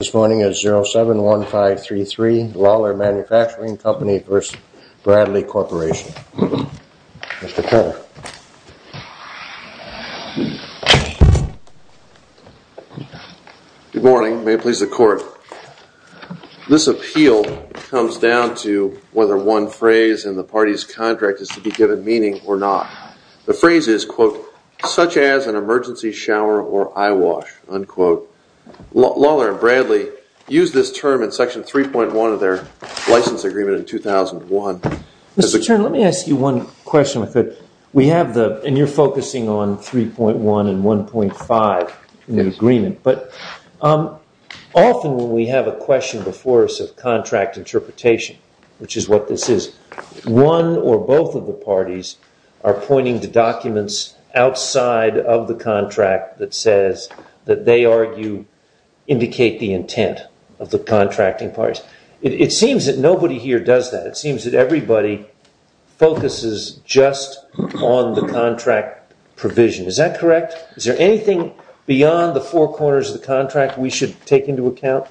This morning is 071533 Lawler MFG Co v. Bradley Corp. Mr. Turner. Good morning. May it please the court. This appeal comes down to whether one phrase in the party's contract is to be given meaning or not. The phrase is, quote, such as an emergency shower or eye wash, unquote. Lawler and Bradley used this term in Section 3.1 of their license agreement in 2001. Mr. Turner, let me ask you one question. And you're focusing on 3.1 and 1.5 in the agreement. But often when we have a question before us of contract interpretation, which is what this is, one or both of the parties are pointing to documents outside of the contract that says that they argue indicate the intent of the contracting parties. It seems that nobody here does that. It seems that everybody focuses just on the contract provision. Is that correct? Is there anything beyond the four corners of the contract we should take into account?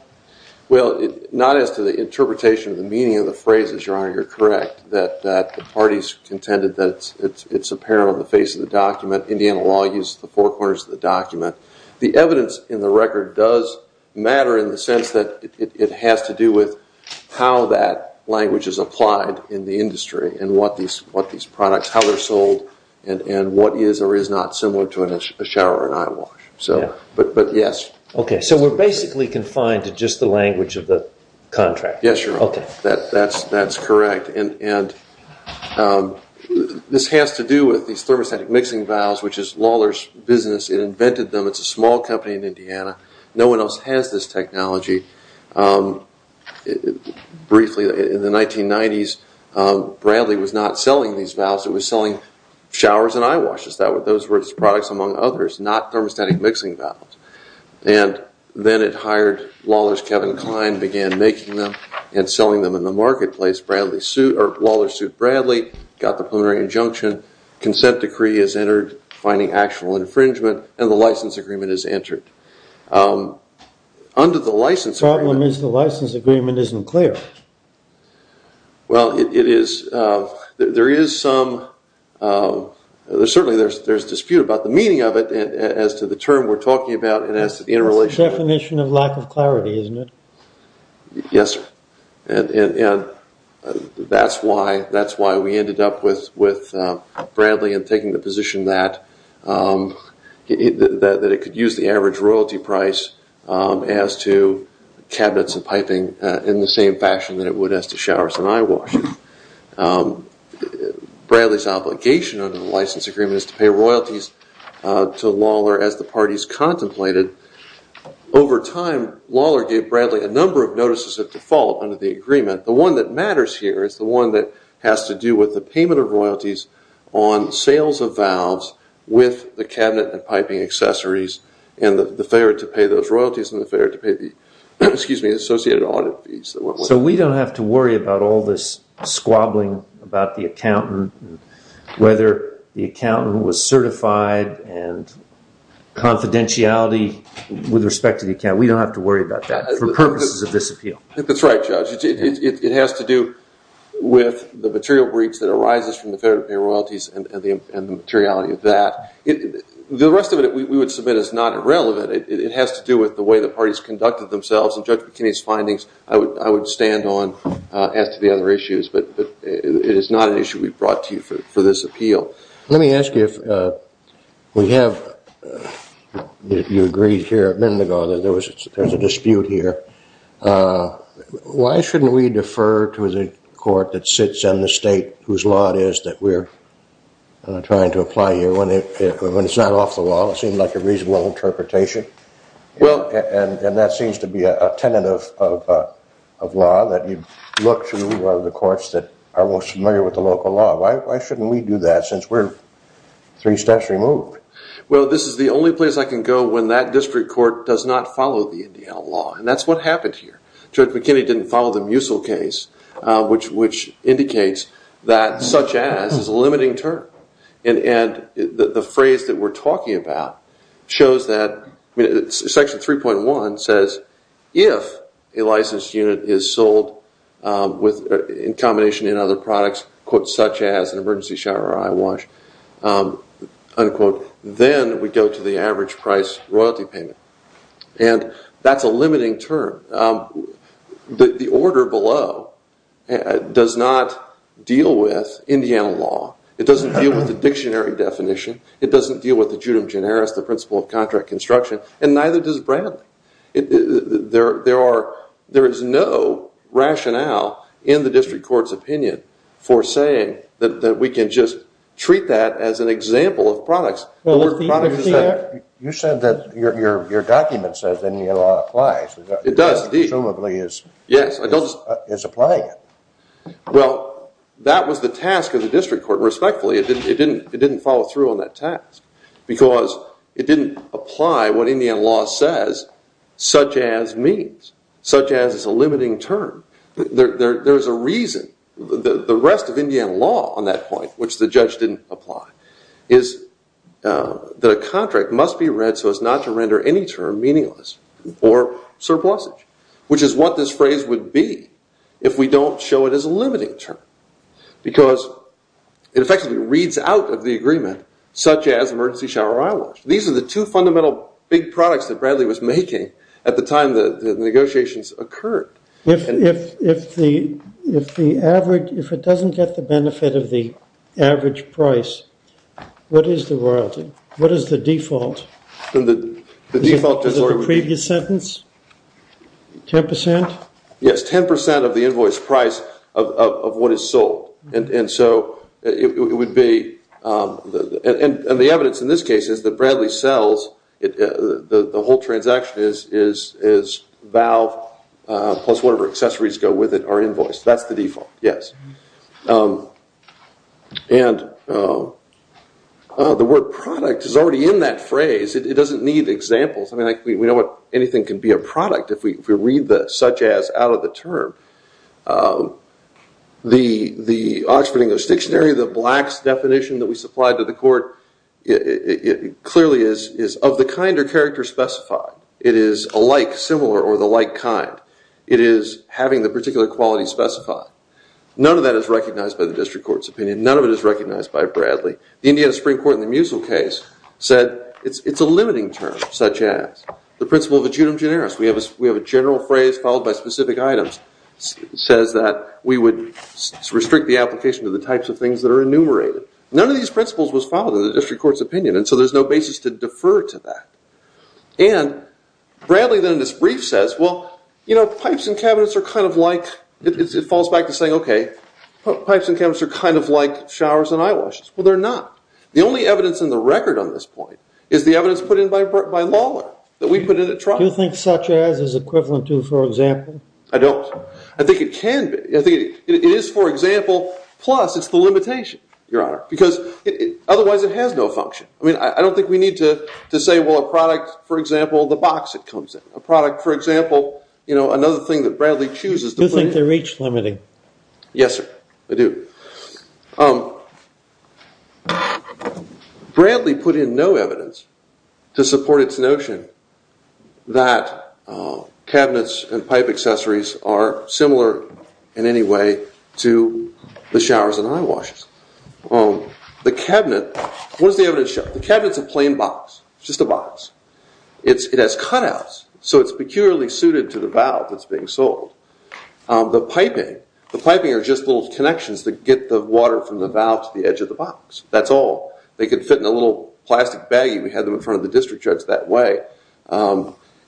Well, not as to the interpretation of the meaning of the phrases, Your Honor. You're correct that the parties contended that it's apparent on the face of the document. Indiana law uses the four corners of the document. The evidence in the record does matter in the sense that it has to do with how that language is applied in the industry and what these products, how they're sold, and what is or is not similar to a shower or an eye wash. But yes. Okay. So we're basically confined to just the language of the contract. Yes, Your Honor. Okay. That's correct. And this has to do with these thermostatic mixing valves, which is Lawler's business. It invented them. It's a small company in Indiana. No one else has this technology. Briefly, in the 1990s, Bradley was not selling these valves. It was selling showers and eye washes. Those were its products, among others, not thermostatic mixing valves. And then it hired Lawler's Kevin Klein, began making them, and selling them in the marketplace. Lawler sued Bradley, got the plenary injunction, consent decree is entered, finding actual infringement, and the license agreement is entered. Under the license agreement. The problem is the license agreement isn't clear. Well, it is. There is some. Certainly, there's dispute about the meaning of it as to the term we're talking about and as to the interrelationship. It's a definition of lack of clarity, isn't it? Yes, sir. That's why we ended up with Bradley and taking the position that it could use the average royalty price as to cabinets and piping in the same fashion that it would as to showers and eye washes. Bradley's obligation under the license agreement is to pay royalties to Lawler as the parties contemplated. Over time, Lawler gave Bradley a number of notices of default under the agreement. The one that matters here is the one that has to do with the payment of royalties on sales of valves with the cabinet and piping accessories and the failure to pay those royalties and the failure to pay the associated audit fees. So we don't have to worry about all this squabbling about the accountant and whether the accountant was certified and confidentiality with respect to the account. We don't have to worry about that for purposes of this appeal. That's right, Judge. It has to do with the material breach that arises from the failure to pay royalties and the materiality of that. The rest of it, we would submit, is not irrelevant. It has to do with the way the parties conducted themselves, and Judge McKinney's findings, I would stand on as to the other issues, but it is not an issue we've brought to you for this appeal. Let me ask you if we have, you agreed here a minute ago that there was a dispute here. Why shouldn't we defer to the court that sits in the state whose law it is that we're trying to apply here when it's not off the wall? It seemed like a reasonable interpretation. And that seems to be a tenet of law, that you look to the courts that are most familiar with the local law. Why shouldn't we do that since we're three steps removed? Well, this is the only place I can go when that district court does not follow the Indiana law, and that's what happened here. Judge McKinney didn't follow the Musil case, which indicates that such as is a limiting term. And the phrase that we're talking about shows that, Section 3.1 says, if a licensed unit is sold in combination with other products, such as an emergency shower or eye wash, unquote, then we go to the average price royalty payment. And that's a limiting term. The order below does not deal with Indiana law. It doesn't deal with the dictionary definition. It doesn't deal with the judum generis, the principle of contract construction. And neither does Bradley. There is no rationale in the district court's opinion for saying that we can just treat that as an example of products. You said that your document says Indiana law applies. It does indeed. Presumably is applying it. Well, that was the task of the district court, respectfully. It didn't follow through on that task because it didn't apply what Indiana law says such as means, such as is a limiting term. There's a reason. The rest of Indiana law on that point, which the judge didn't apply, is that a contract must be read so as not to render any term meaningless or surplusage, which is what this phrase would be if we don't show it as a limiting term because it effectively reads out of the agreement such as emergency shower eye wash. These are the two fundamental big products that Bradley was making at the time the negotiations occurred. If it doesn't get the benefit of the average price, what is the royalty? What is the default? Is it the previous sentence, 10%? Yes, 10% of the invoice price of what is sold. And so it would be, and the evidence in this case is that Bradley sells, the whole transaction is valve plus whatever accessories go with it are invoiced. That's the default, yes. And the word product is already in that phrase. It doesn't need examples. We know anything can be a product if we read the such as out of the term. The Oxford English Dictionary, the blacks definition that we supplied to the court, clearly is of the kind or character specified. It is alike, similar, or the like kind. It is having the particular quality specified. None of that is recognized by the district court's opinion. None of it is recognized by Bradley. The Indiana Supreme Court in the Musil case said it's a limiting term, such as the principle of adjunct generis. We have a general phrase followed by specific items. It says that we would restrict the application to the types of things that are enumerated. None of these principles was followed in the district court's opinion, and so there's no basis to defer to that. And Bradley then in his brief says, well, you know, pipes and cabinets are kind of like, it falls back to saying, okay, pipes and cabinets are kind of like showers and eyewashes. Well, they're not. The only evidence in the record on this point is the evidence put in by Lawler that we put in at trial. Do you think such as is equivalent to, for example? I don't. I think it can be. It is, for example, plus it's the limitation, Your Honor, because otherwise it has no function. I mean, I don't think we need to say, well, a product, for example, the box it comes in. A product, for example, you know, another thing that Bradley chooses. Do you think they're reach limiting? Yes, sir, I do. Bradley put in no evidence to support its notion that cabinets and pipe accessories are similar in any way to the showers and eyewashes. The cabinet, what does the evidence show? The cabinet's a plain box, just a box. It has cutouts, so it's peculiarly suited to the valve that's being sold. The piping, the piping are just little connections that get the water from the valve to the edge of the box. That's all. They could fit in a little plastic baggie. We had them in front of the district judge that way.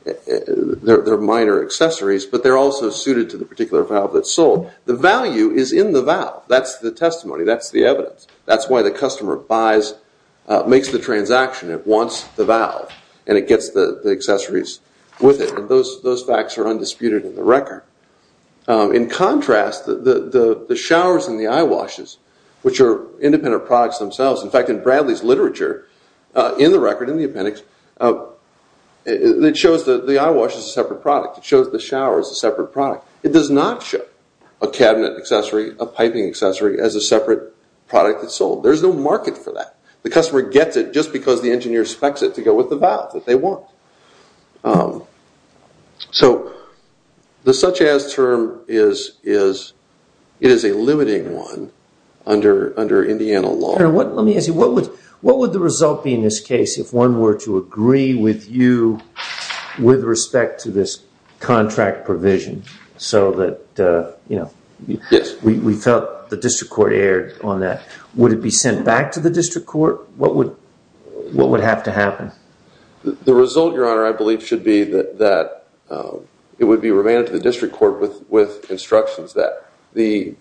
They're minor accessories, but they're also suited to the particular valve that's sold. The value is in the valve. That's the testimony. That's the evidence. That's why the customer buys, makes the transaction. It wants the valve, and it gets the accessories with it. Those facts are undisputed in the record. In contrast, the showers and the eyewashes, which are independent products themselves, in fact, in Bradley's literature, in the record, in the appendix, it shows that the eyewash is a separate product. It shows the shower is a separate product. It does not show a cabinet accessory, a piping accessory, as a separate product that's sold. There's no market for that. The customer gets it just because the engineer specs it to go with the valve that they want. The such-as term is a limiting one under Indiana law. Let me ask you, what would the result be in this case if one were to agree with you with respect to this contract provision, so that we felt the district court erred on that? Would it be sent back to the district court? What would have to happen? The result, Your Honor, I believe should be that it would be remanded to the district court with instructions that the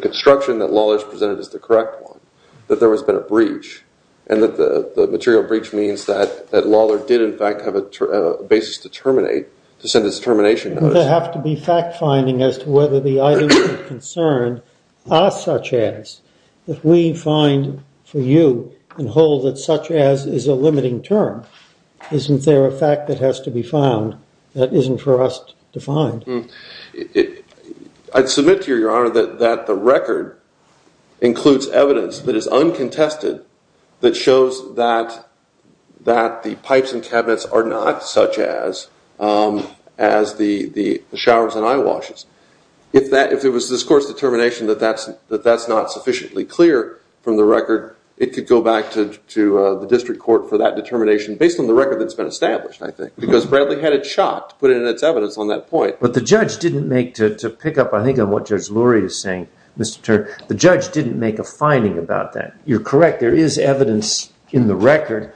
construction that Lawler's presented is the correct one, that there has been a breach, and that the material breach means that Lawler did, in fact, have a basis to terminate, to send his termination notice. Would there have to be fact-finding as to whether the items of concern are such-as? If we find for you and hold that such-as is a limiting term, isn't there a fact that has to be found that isn't for us to find? I'd submit to you, Your Honor, that the record includes evidence that is uncontested, that shows that the pipes and cabinets are not such-as as the showers and eyewashes. If it was this court's determination that that's not sufficiently clear from the record, it could go back to the district court for that determination based on the record that's been established, I think, because Bradley had it shot to put it in its evidence on that point. But the judge didn't make, to pick up, I think, on what Judge Lurie is saying, Mr. Turner, the judge didn't make a finding about that. You're correct. There is evidence in the record,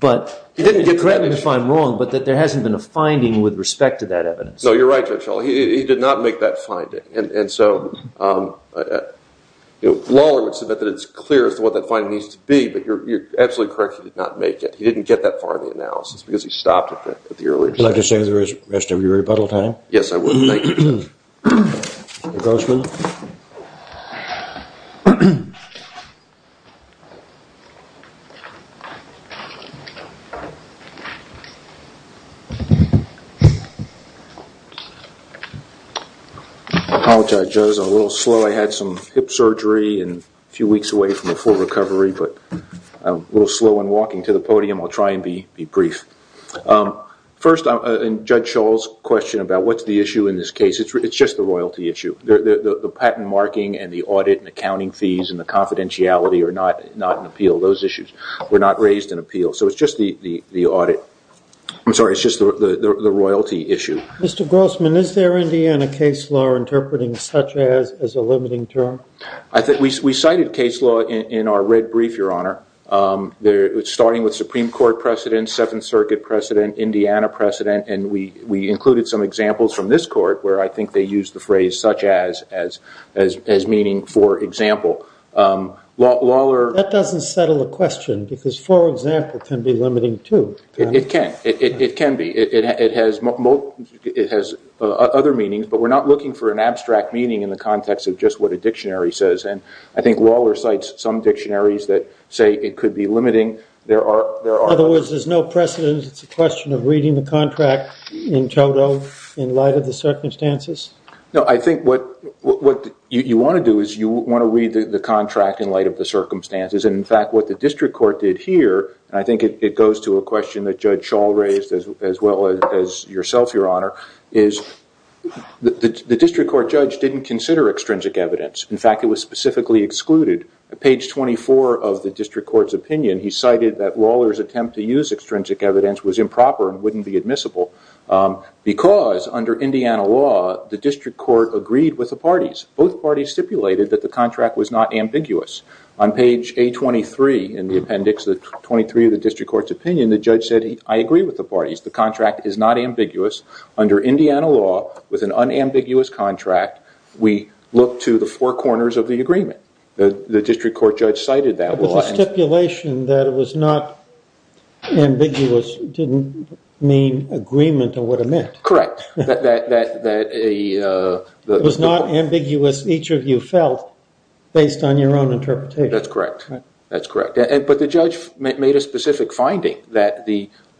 but you're correct if I'm wrong, but that there hasn't been a finding with respect to that evidence. No, you're right, Judge Schell. He did not make that finding. And so Lawler would submit that it's clear as to what that finding needs to be, but you're absolutely correct. He did not make it. He didn't get that far in the analysis because he stopped it at the earlier stage. Would you like to stay the rest of your rebuttal time? Yes, I would. Thank you. Mr. Grossman. I apologize, Judge. I'm a little slow. I had some hip surgery a few weeks away from a full recovery, but I'm a little slow in walking to the podium. I'll try and be brief. First, in Judge Schell's question about what's the issue in this case, it's just the royalty issue. The patent marking and the audit and accounting fees and the confidentiality are not in appeal. Those issues were not raised in appeal. So it's just the audit. I'm sorry, it's just the royalty issue. Mr. Grossman, is there, in the end, a case law interpreting such as as a limiting term? We cited a case law in our red brief, Your Honor. It's starting with Supreme Court precedent, Seventh Circuit precedent, Indiana precedent, and we included some examples from this court where I think they used the phrase such as as meaning for example. That doesn't settle the question because for example can be limiting too. It can. It can be. It has other meanings, but we're not looking for an abstract meaning in the context of just what a dictionary says. I think Waller cites some dictionaries that say it could be limiting. In other words, there's no precedent. It's a question of reading the contract in total in light of the circumstances? No, I think what you want to do is you want to read the contract in light of the circumstances. In fact, what the district court did here, and I think it goes to a question that Judge Schell raised as well as yourself, Your Honor, is the district court judge didn't consider extrinsic evidence. In fact, it was specifically excluded. At page 24 of the district court's opinion, he cited that Waller's attempt to use extrinsic evidence was improper and wouldn't be admissible because under Indiana law, the district court agreed with the parties. Both parties stipulated that the contract was not ambiguous. On page A23 in the appendix, the 23 of the district court's opinion, the judge said, I agree with the parties. The contract is not ambiguous. Under Indiana law, with an unambiguous contract, we look to the four corners of the agreement. The district court judge cited that. But the stipulation that it was not ambiguous didn't mean agreement or what it meant. Correct. It was not ambiguous, each of you felt, based on your own interpretation. That's correct. But the judge made a specific finding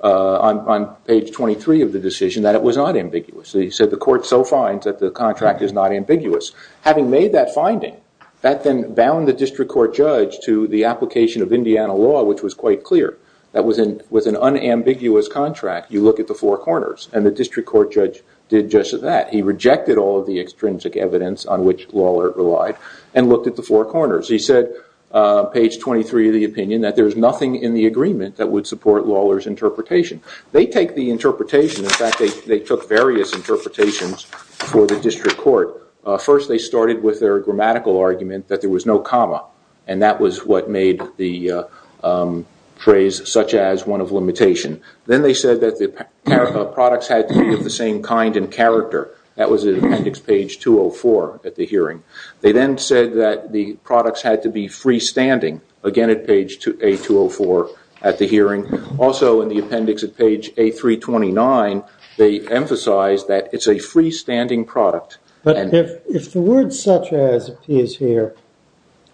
on page 23 of the decision that it was not ambiguous. He said the court so finds that the contract is not ambiguous. Having made that finding, that then bound the district court judge to the application of Indiana law, which was quite clear. That with an unambiguous contract, you look at the four corners, and the district court judge did just that. He rejected all of the extrinsic evidence on which Waller relied and looked at the four corners. He said, page 23 of the opinion, that there's nothing in the agreement that would support Waller's interpretation. They take the interpretation. In fact, they took various interpretations for the district court. First, they started with their grammatical argument that there was no comma, and that was what made the phrase such as one of limitation. Then they said that the products had to be of the same kind and character. That was at appendix page 204 at the hearing. They then said that the products had to be freestanding, again at page 204 at the hearing. Also, in the appendix at page 329, they emphasized that it's a freestanding product. But if the word such as appears here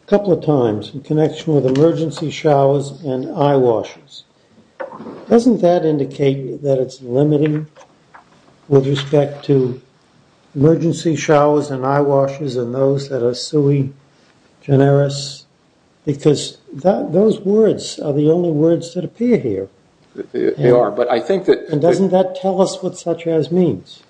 a couple of times in connection with emergency showers and eyewashes, doesn't that indicate that it's limiting with respect to emergency showers and eyewashes and those that are sui generis? Because those words are the only words that appear here. They are, but I think that- Doesn't that tell us what such as means?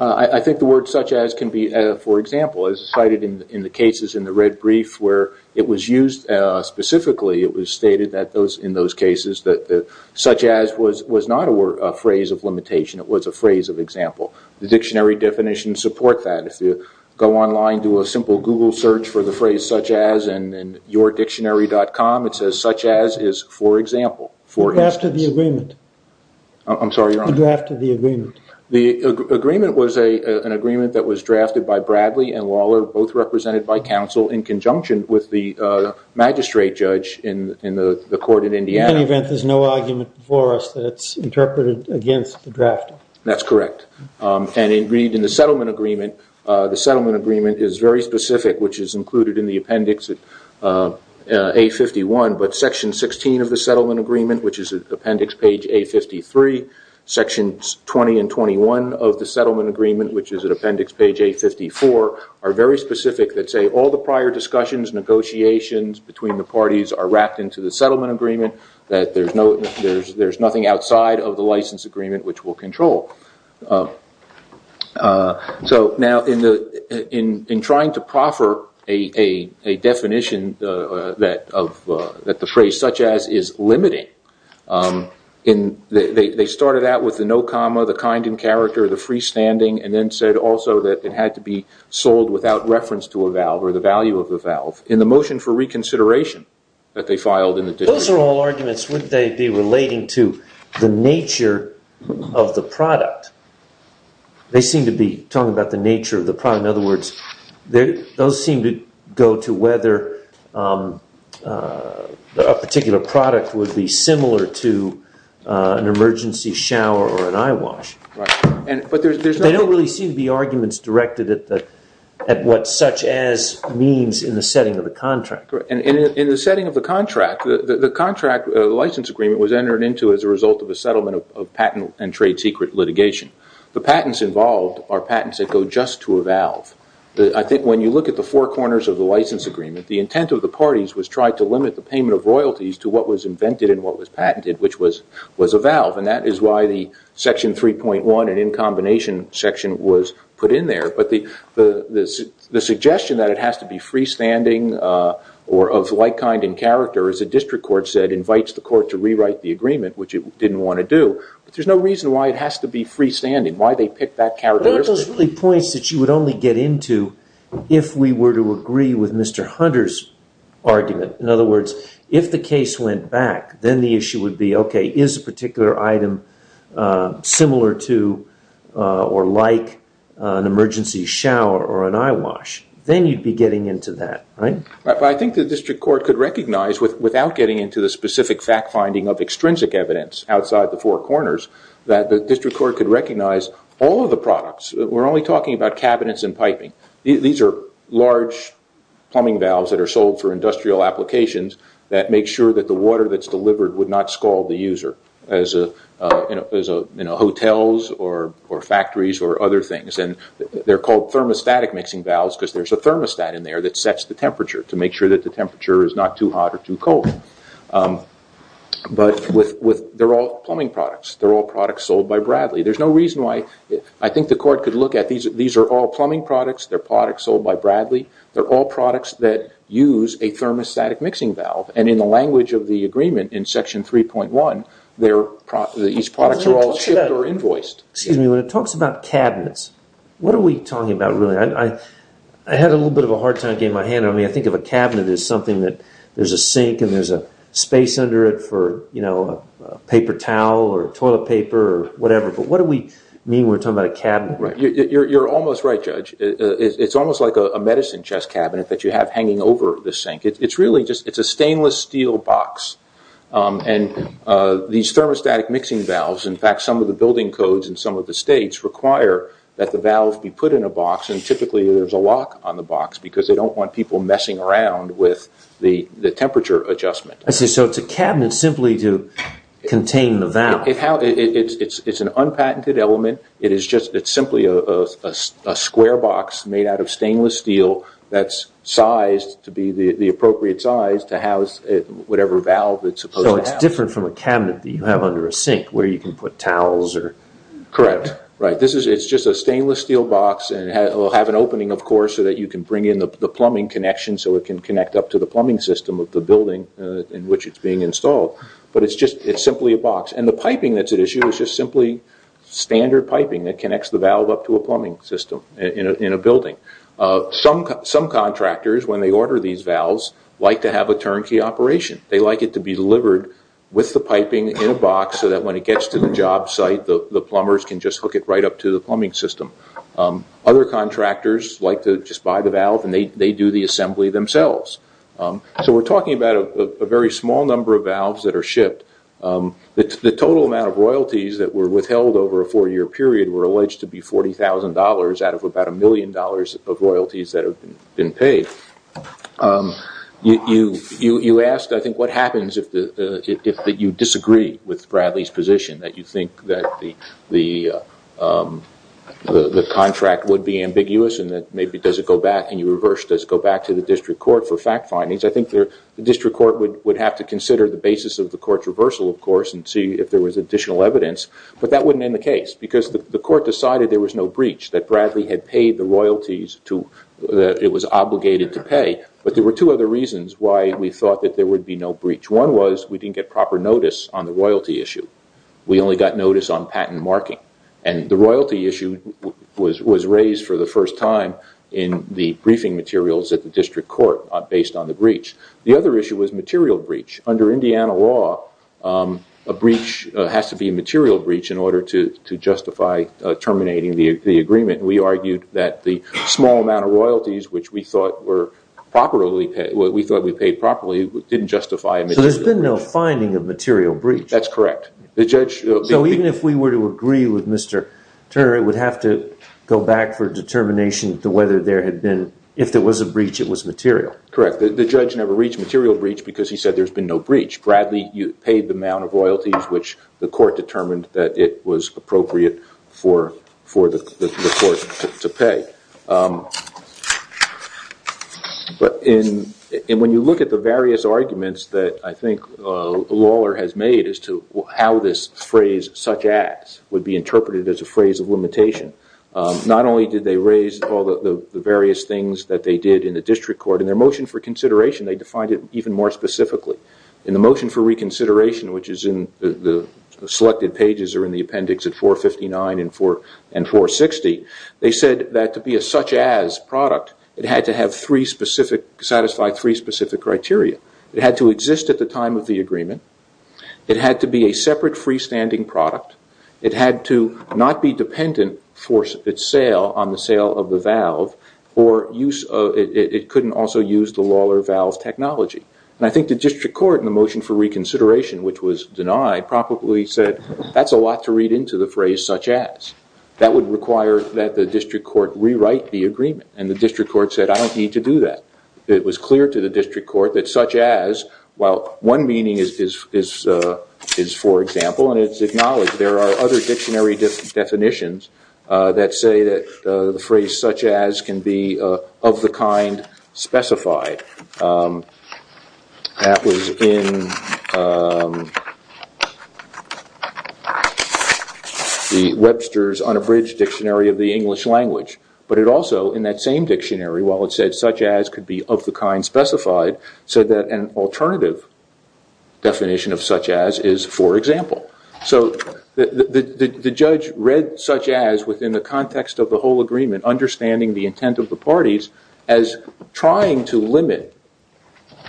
I think the word such as can be, for example, as cited in the cases in the red brief where it was used specifically, it was stated in those cases that such as was not a phrase of limitation. It was a phrase of example. The dictionary definitions support that. If you go online, do a simple Google search for the phrase such as in yourdictionary.com, it says such as is for example, for instance. The draft of the agreement. I'm sorry, Your Honor. The draft of the agreement. The agreement was an agreement that was drafted by Bradley and Lawler, both represented by counsel, in conjunction with the magistrate judge in the court in Indiana. In any event, there's no argument for us that it's interpreted against the drafting. That's correct. And agreed in the settlement agreement. The settlement agreement is very specific, which is included in the appendix A51, but section 16 of the settlement agreement, which is at appendix page A53, section 20 and 21 of the settlement agreement, which is at appendix page A54, are very specific that say all the prior discussions, negotiations between the parties are wrapped into the settlement agreement, that there's nothing outside of the license agreement which will control. So now in trying to proffer a definition that the phrase such as is limiting, they started out with the no comma, the kind and character, the freestanding, and then said also that it had to be sold without reference to a valve or the value of the valve. In the motion for reconsideration that they filed in the district. Those are all arguments. Wouldn't they be relating to the nature of the product? They seem to be talking about the nature of the product. In other words, those seem to go to whether a particular product would be similar to an emergency shower or an eyewash. They don't really seem to be arguments directed at what such as means in the setting of the contract. In the setting of the contract, the license agreement was entered into as a result of a settlement of patent and trade secret litigation. The patents involved are patents that go just to a valve. I think when you look at the four corners of the license agreement, the intent of the parties was tried to limit the payment of royalties to what was invented and what was patented, which was a valve, and that is why the section 3.1 and in combination section was put in there. But the suggestion that it has to be freestanding or of like kind in character, as the district court said, invites the court to rewrite the agreement, which it didn't want to do. But there's no reason why it has to be freestanding, why they picked that characteristic. Those are really points that you would only get into if we were to agree with Mr. Hunter's argument. In other words, if the case went back, then the issue would be, okay, is a particular item similar to or like an emergency shower or an eyewash? Then you'd be getting into that, right? I think the district court could recognize, without getting into the specific fact finding of extrinsic evidence outside the four corners, that the district court could recognize all of the products. We're only talking about cabinets and piping. These are large plumbing valves that are sold for industrial applications that make sure that the water that's delivered would not scald the user, as hotels or factories or other things. They're called thermostatic mixing valves because there's a thermostat in there that sets the temperature to make sure that the temperature is not too hot or too cold. But they're all plumbing products. They're all products sold by Bradley. There's no reason why I think the court could look at these. These are all plumbing products. They're products sold by Bradley. They're all products that use a thermostatic mixing valve. And in the language of the agreement in Section 3.1, these products are all shipped or invoiced. Excuse me. When it talks about cabinets, what are we talking about really? I had a little bit of a hard time getting my hand on it. I think of a cabinet as something that there's a sink and there's a space under it for a paper towel or toilet paper or whatever. But what do we mean when we're talking about a cabinet? You're almost right, Judge. It's almost like a medicine chest cabinet that you have hanging over the sink. It's really just a stainless steel box. And these thermostatic mixing valves, in fact some of the building codes in some of the states, require that the valves be put in a box and typically there's a lock on the box because they don't want people messing around with the temperature adjustment. So it's a cabinet simply to contain the valve. It's an unpatented element. It's simply a square box made out of stainless steel that's sized to be the appropriate size to house whatever valve it's supposed to have. So it's different from a cabinet that you have under a sink where you can put towels or... Correct. It's just a stainless steel box. It will have an opening, of course, so that you can bring in the plumbing connection so it can connect up to the plumbing system of the building in which it's being installed. But it's simply a box. And the piping that's at issue is just simply standard piping that connects the valve up to a plumbing system in a building. Some contractors, when they order these valves, like to have a turnkey operation. They like it to be delivered with the piping in a box so that when it gets to the job site, the plumbers can just hook it right up to the plumbing system. Other contractors like to just buy the valve and they do the assembly themselves. So we're talking about a very small number of valves that are shipped. The total amount of royalties that were withheld over a four-year period were alleged to be $40,000 out of about a million dollars of royalties that have been paid. You asked, I think, what happens if you disagree with Bradley's position, that you think that the contract would be ambiguous and that maybe does it go back and you reverse does it go back to the district court for fact findings. I think the district court would have to consider the basis of the court's reversal, of course, and see if there was additional evidence. But that wouldn't end the case because the court decided there was no breach, that Bradley had paid the royalties that it was obligated to pay. But there were two other reasons why we thought that there would be no breach. One was we didn't get proper notice on the royalty issue. We only got notice on patent marking. And the royalty issue was raised for the first time in the briefing materials at the district court based on the breach. The other issue was material breach. Under Indiana law, a breach has to be a material breach in order to justify terminating the agreement. We argued that the small amount of royalties which we thought we paid properly didn't justify a material breach. So there's been no finding of material breach. That's correct. So even if we were to agree with Mr. Turner, it would have to go back for determination to whether there had been, if there was a breach, it was material. Correct. The judge never reached material breach because he said there's been no breach. Bradley paid the amount of royalties which the court determined that it was appropriate for the court to pay. When you look at the various arguments that I think Lawler has made as to how this phrase, such as, would be interpreted as a phrase of limitation, not only did they raise all the various things that they did in the district court, in their motion for consideration they defined it even more specifically. In the motion for reconsideration, which is in the selected pages or in the appendix at 459 and 460, they said that to be a such as product it had to satisfy three specific criteria. It had to exist at the time of the agreement. It had to be a separate freestanding product. It had to not be dependent on the sale of the valve or it couldn't also use the Lawler valve technology. And I think the district court in the motion for reconsideration, which was denied, probably said that's a lot to read into the phrase such as. That would require that the district court rewrite the agreement. And the district court said I don't need to do that. It was clear to the district court that such as, while one meaning is for example, and it's acknowledged there are other dictionary definitions that say that the phrase such as can be of the kind specified. That was in the Webster's unabridged dictionary of the English language. But it also, in that same dictionary, while it said such as could be of the kind specified, said that an alternative definition of such as is for example. So the judge read such as within the context of the whole agreement, understanding the intent of the parties as trying to limit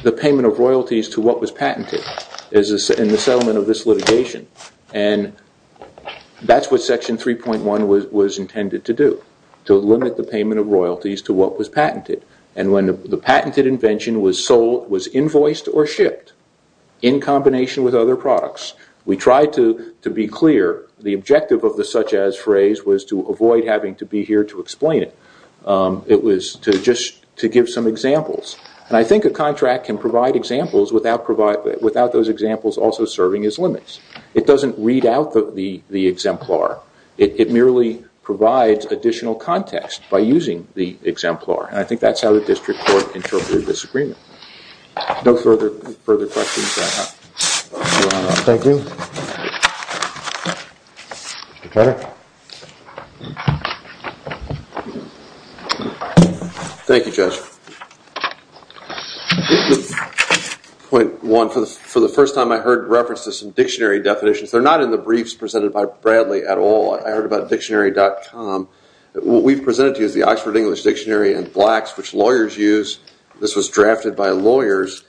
the payment of royalties to what was patented in the settlement of this litigation. And that's what section 3.1 was intended to do. To limit the payment of royalties to what was patented. And when the patented invention was invoiced or shipped in combination with other products, we tried to be clear the objective of the such as phrase was to avoid having to be here to explain it. It was just to give some examples. And I think a contract can provide examples without those examples also serving as limits. It doesn't read out the exemplar. It merely provides additional context by using the exemplar. And I think that's how the district court interpreted this agreement. No further questions? Thank you. Mr. Turner. Thank you, Judge. This is point one. For the first time I heard reference to some dictionary definitions. They're not in the briefs presented by Bradley at all. I heard about dictionary.com. What we've presented to you is the Oxford English Dictionary and Blacks, which lawyers use. This was drafted by lawyers.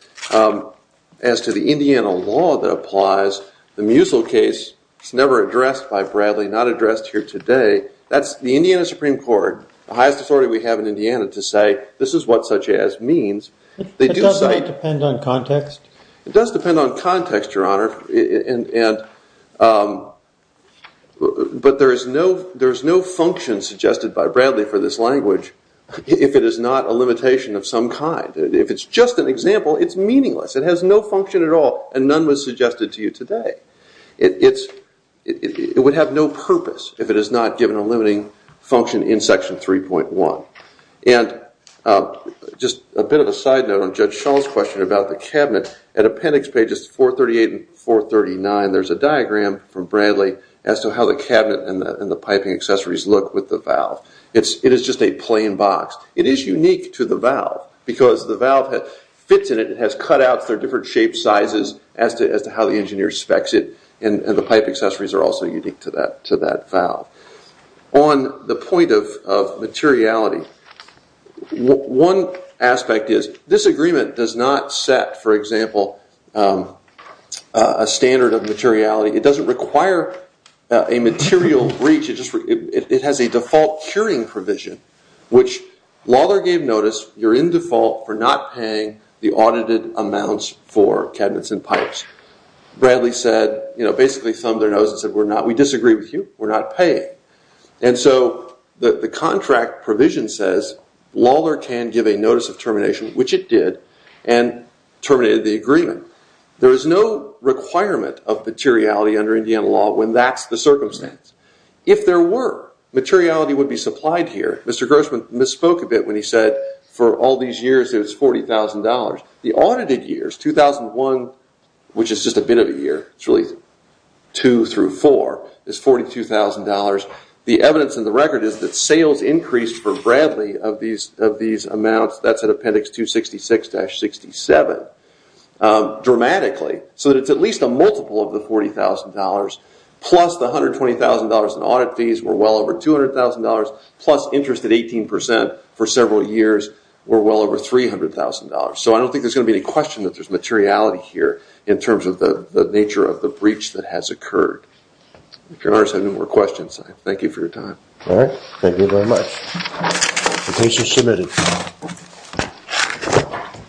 As to the Indiana law that applies, the Musil case is never addressed by Bradley, not addressed here today. That's the Indiana Supreme Court, the highest authority we have in Indiana, to say this is what such as means. It doesn't depend on context? It does depend on context, Your Honor. But there is no function suggested by Bradley for this language if it is not a limitation of some kind. If it's just an example, it's meaningless. It has no function at all, and none was suggested to you today. It would have no purpose if it is not given a limiting function in section 3.1. Just a bit of a side note on Judge Shull's question about the cabinet. At appendix pages 438 and 439, there's a diagram from Bradley as to how the cabinet and the piping accessories look with the valve. It is just a plain box. It is unique to the valve because the valve fits in it. It has cutouts. There are different shape sizes as to how the engineer specs it. The pipe accessories are also unique to that valve. On the point of materiality, one aspect is this agreement does not set, for example, a standard of materiality. It doesn't require a material breach. It has a default curing provision, which Lawlor gave notice, you're in default for not paying the audited amounts for cabinets and pipes. Bradley basically thumbed their nose and said, we disagree with you. We're not paying. The contract provision says Lawlor can give a notice of termination, which it did, and terminated the agreement. There is no requirement of materiality under Indiana law when that's the circumstance. If there were, materiality would be supplied here. Mr. Grossman misspoke a bit when he said for all these years it was $40,000. The audited years, 2001, which is just a bit of a year, it's really two through four, is $42,000. The evidence in the record is that sales increased for Bradley of these amounts, that's at Appendix 266-67, dramatically so that it's at least a multiple of the $40,000 plus the $120,000 in audit fees were well over $200,000 plus interest at 18% for several years were well over $300,000. I don't think there's going to be any question that there's materiality here in terms of the nature of the breach that has occurred. If you have any more questions, thank you for your time. Thank you very much. The case is submitted.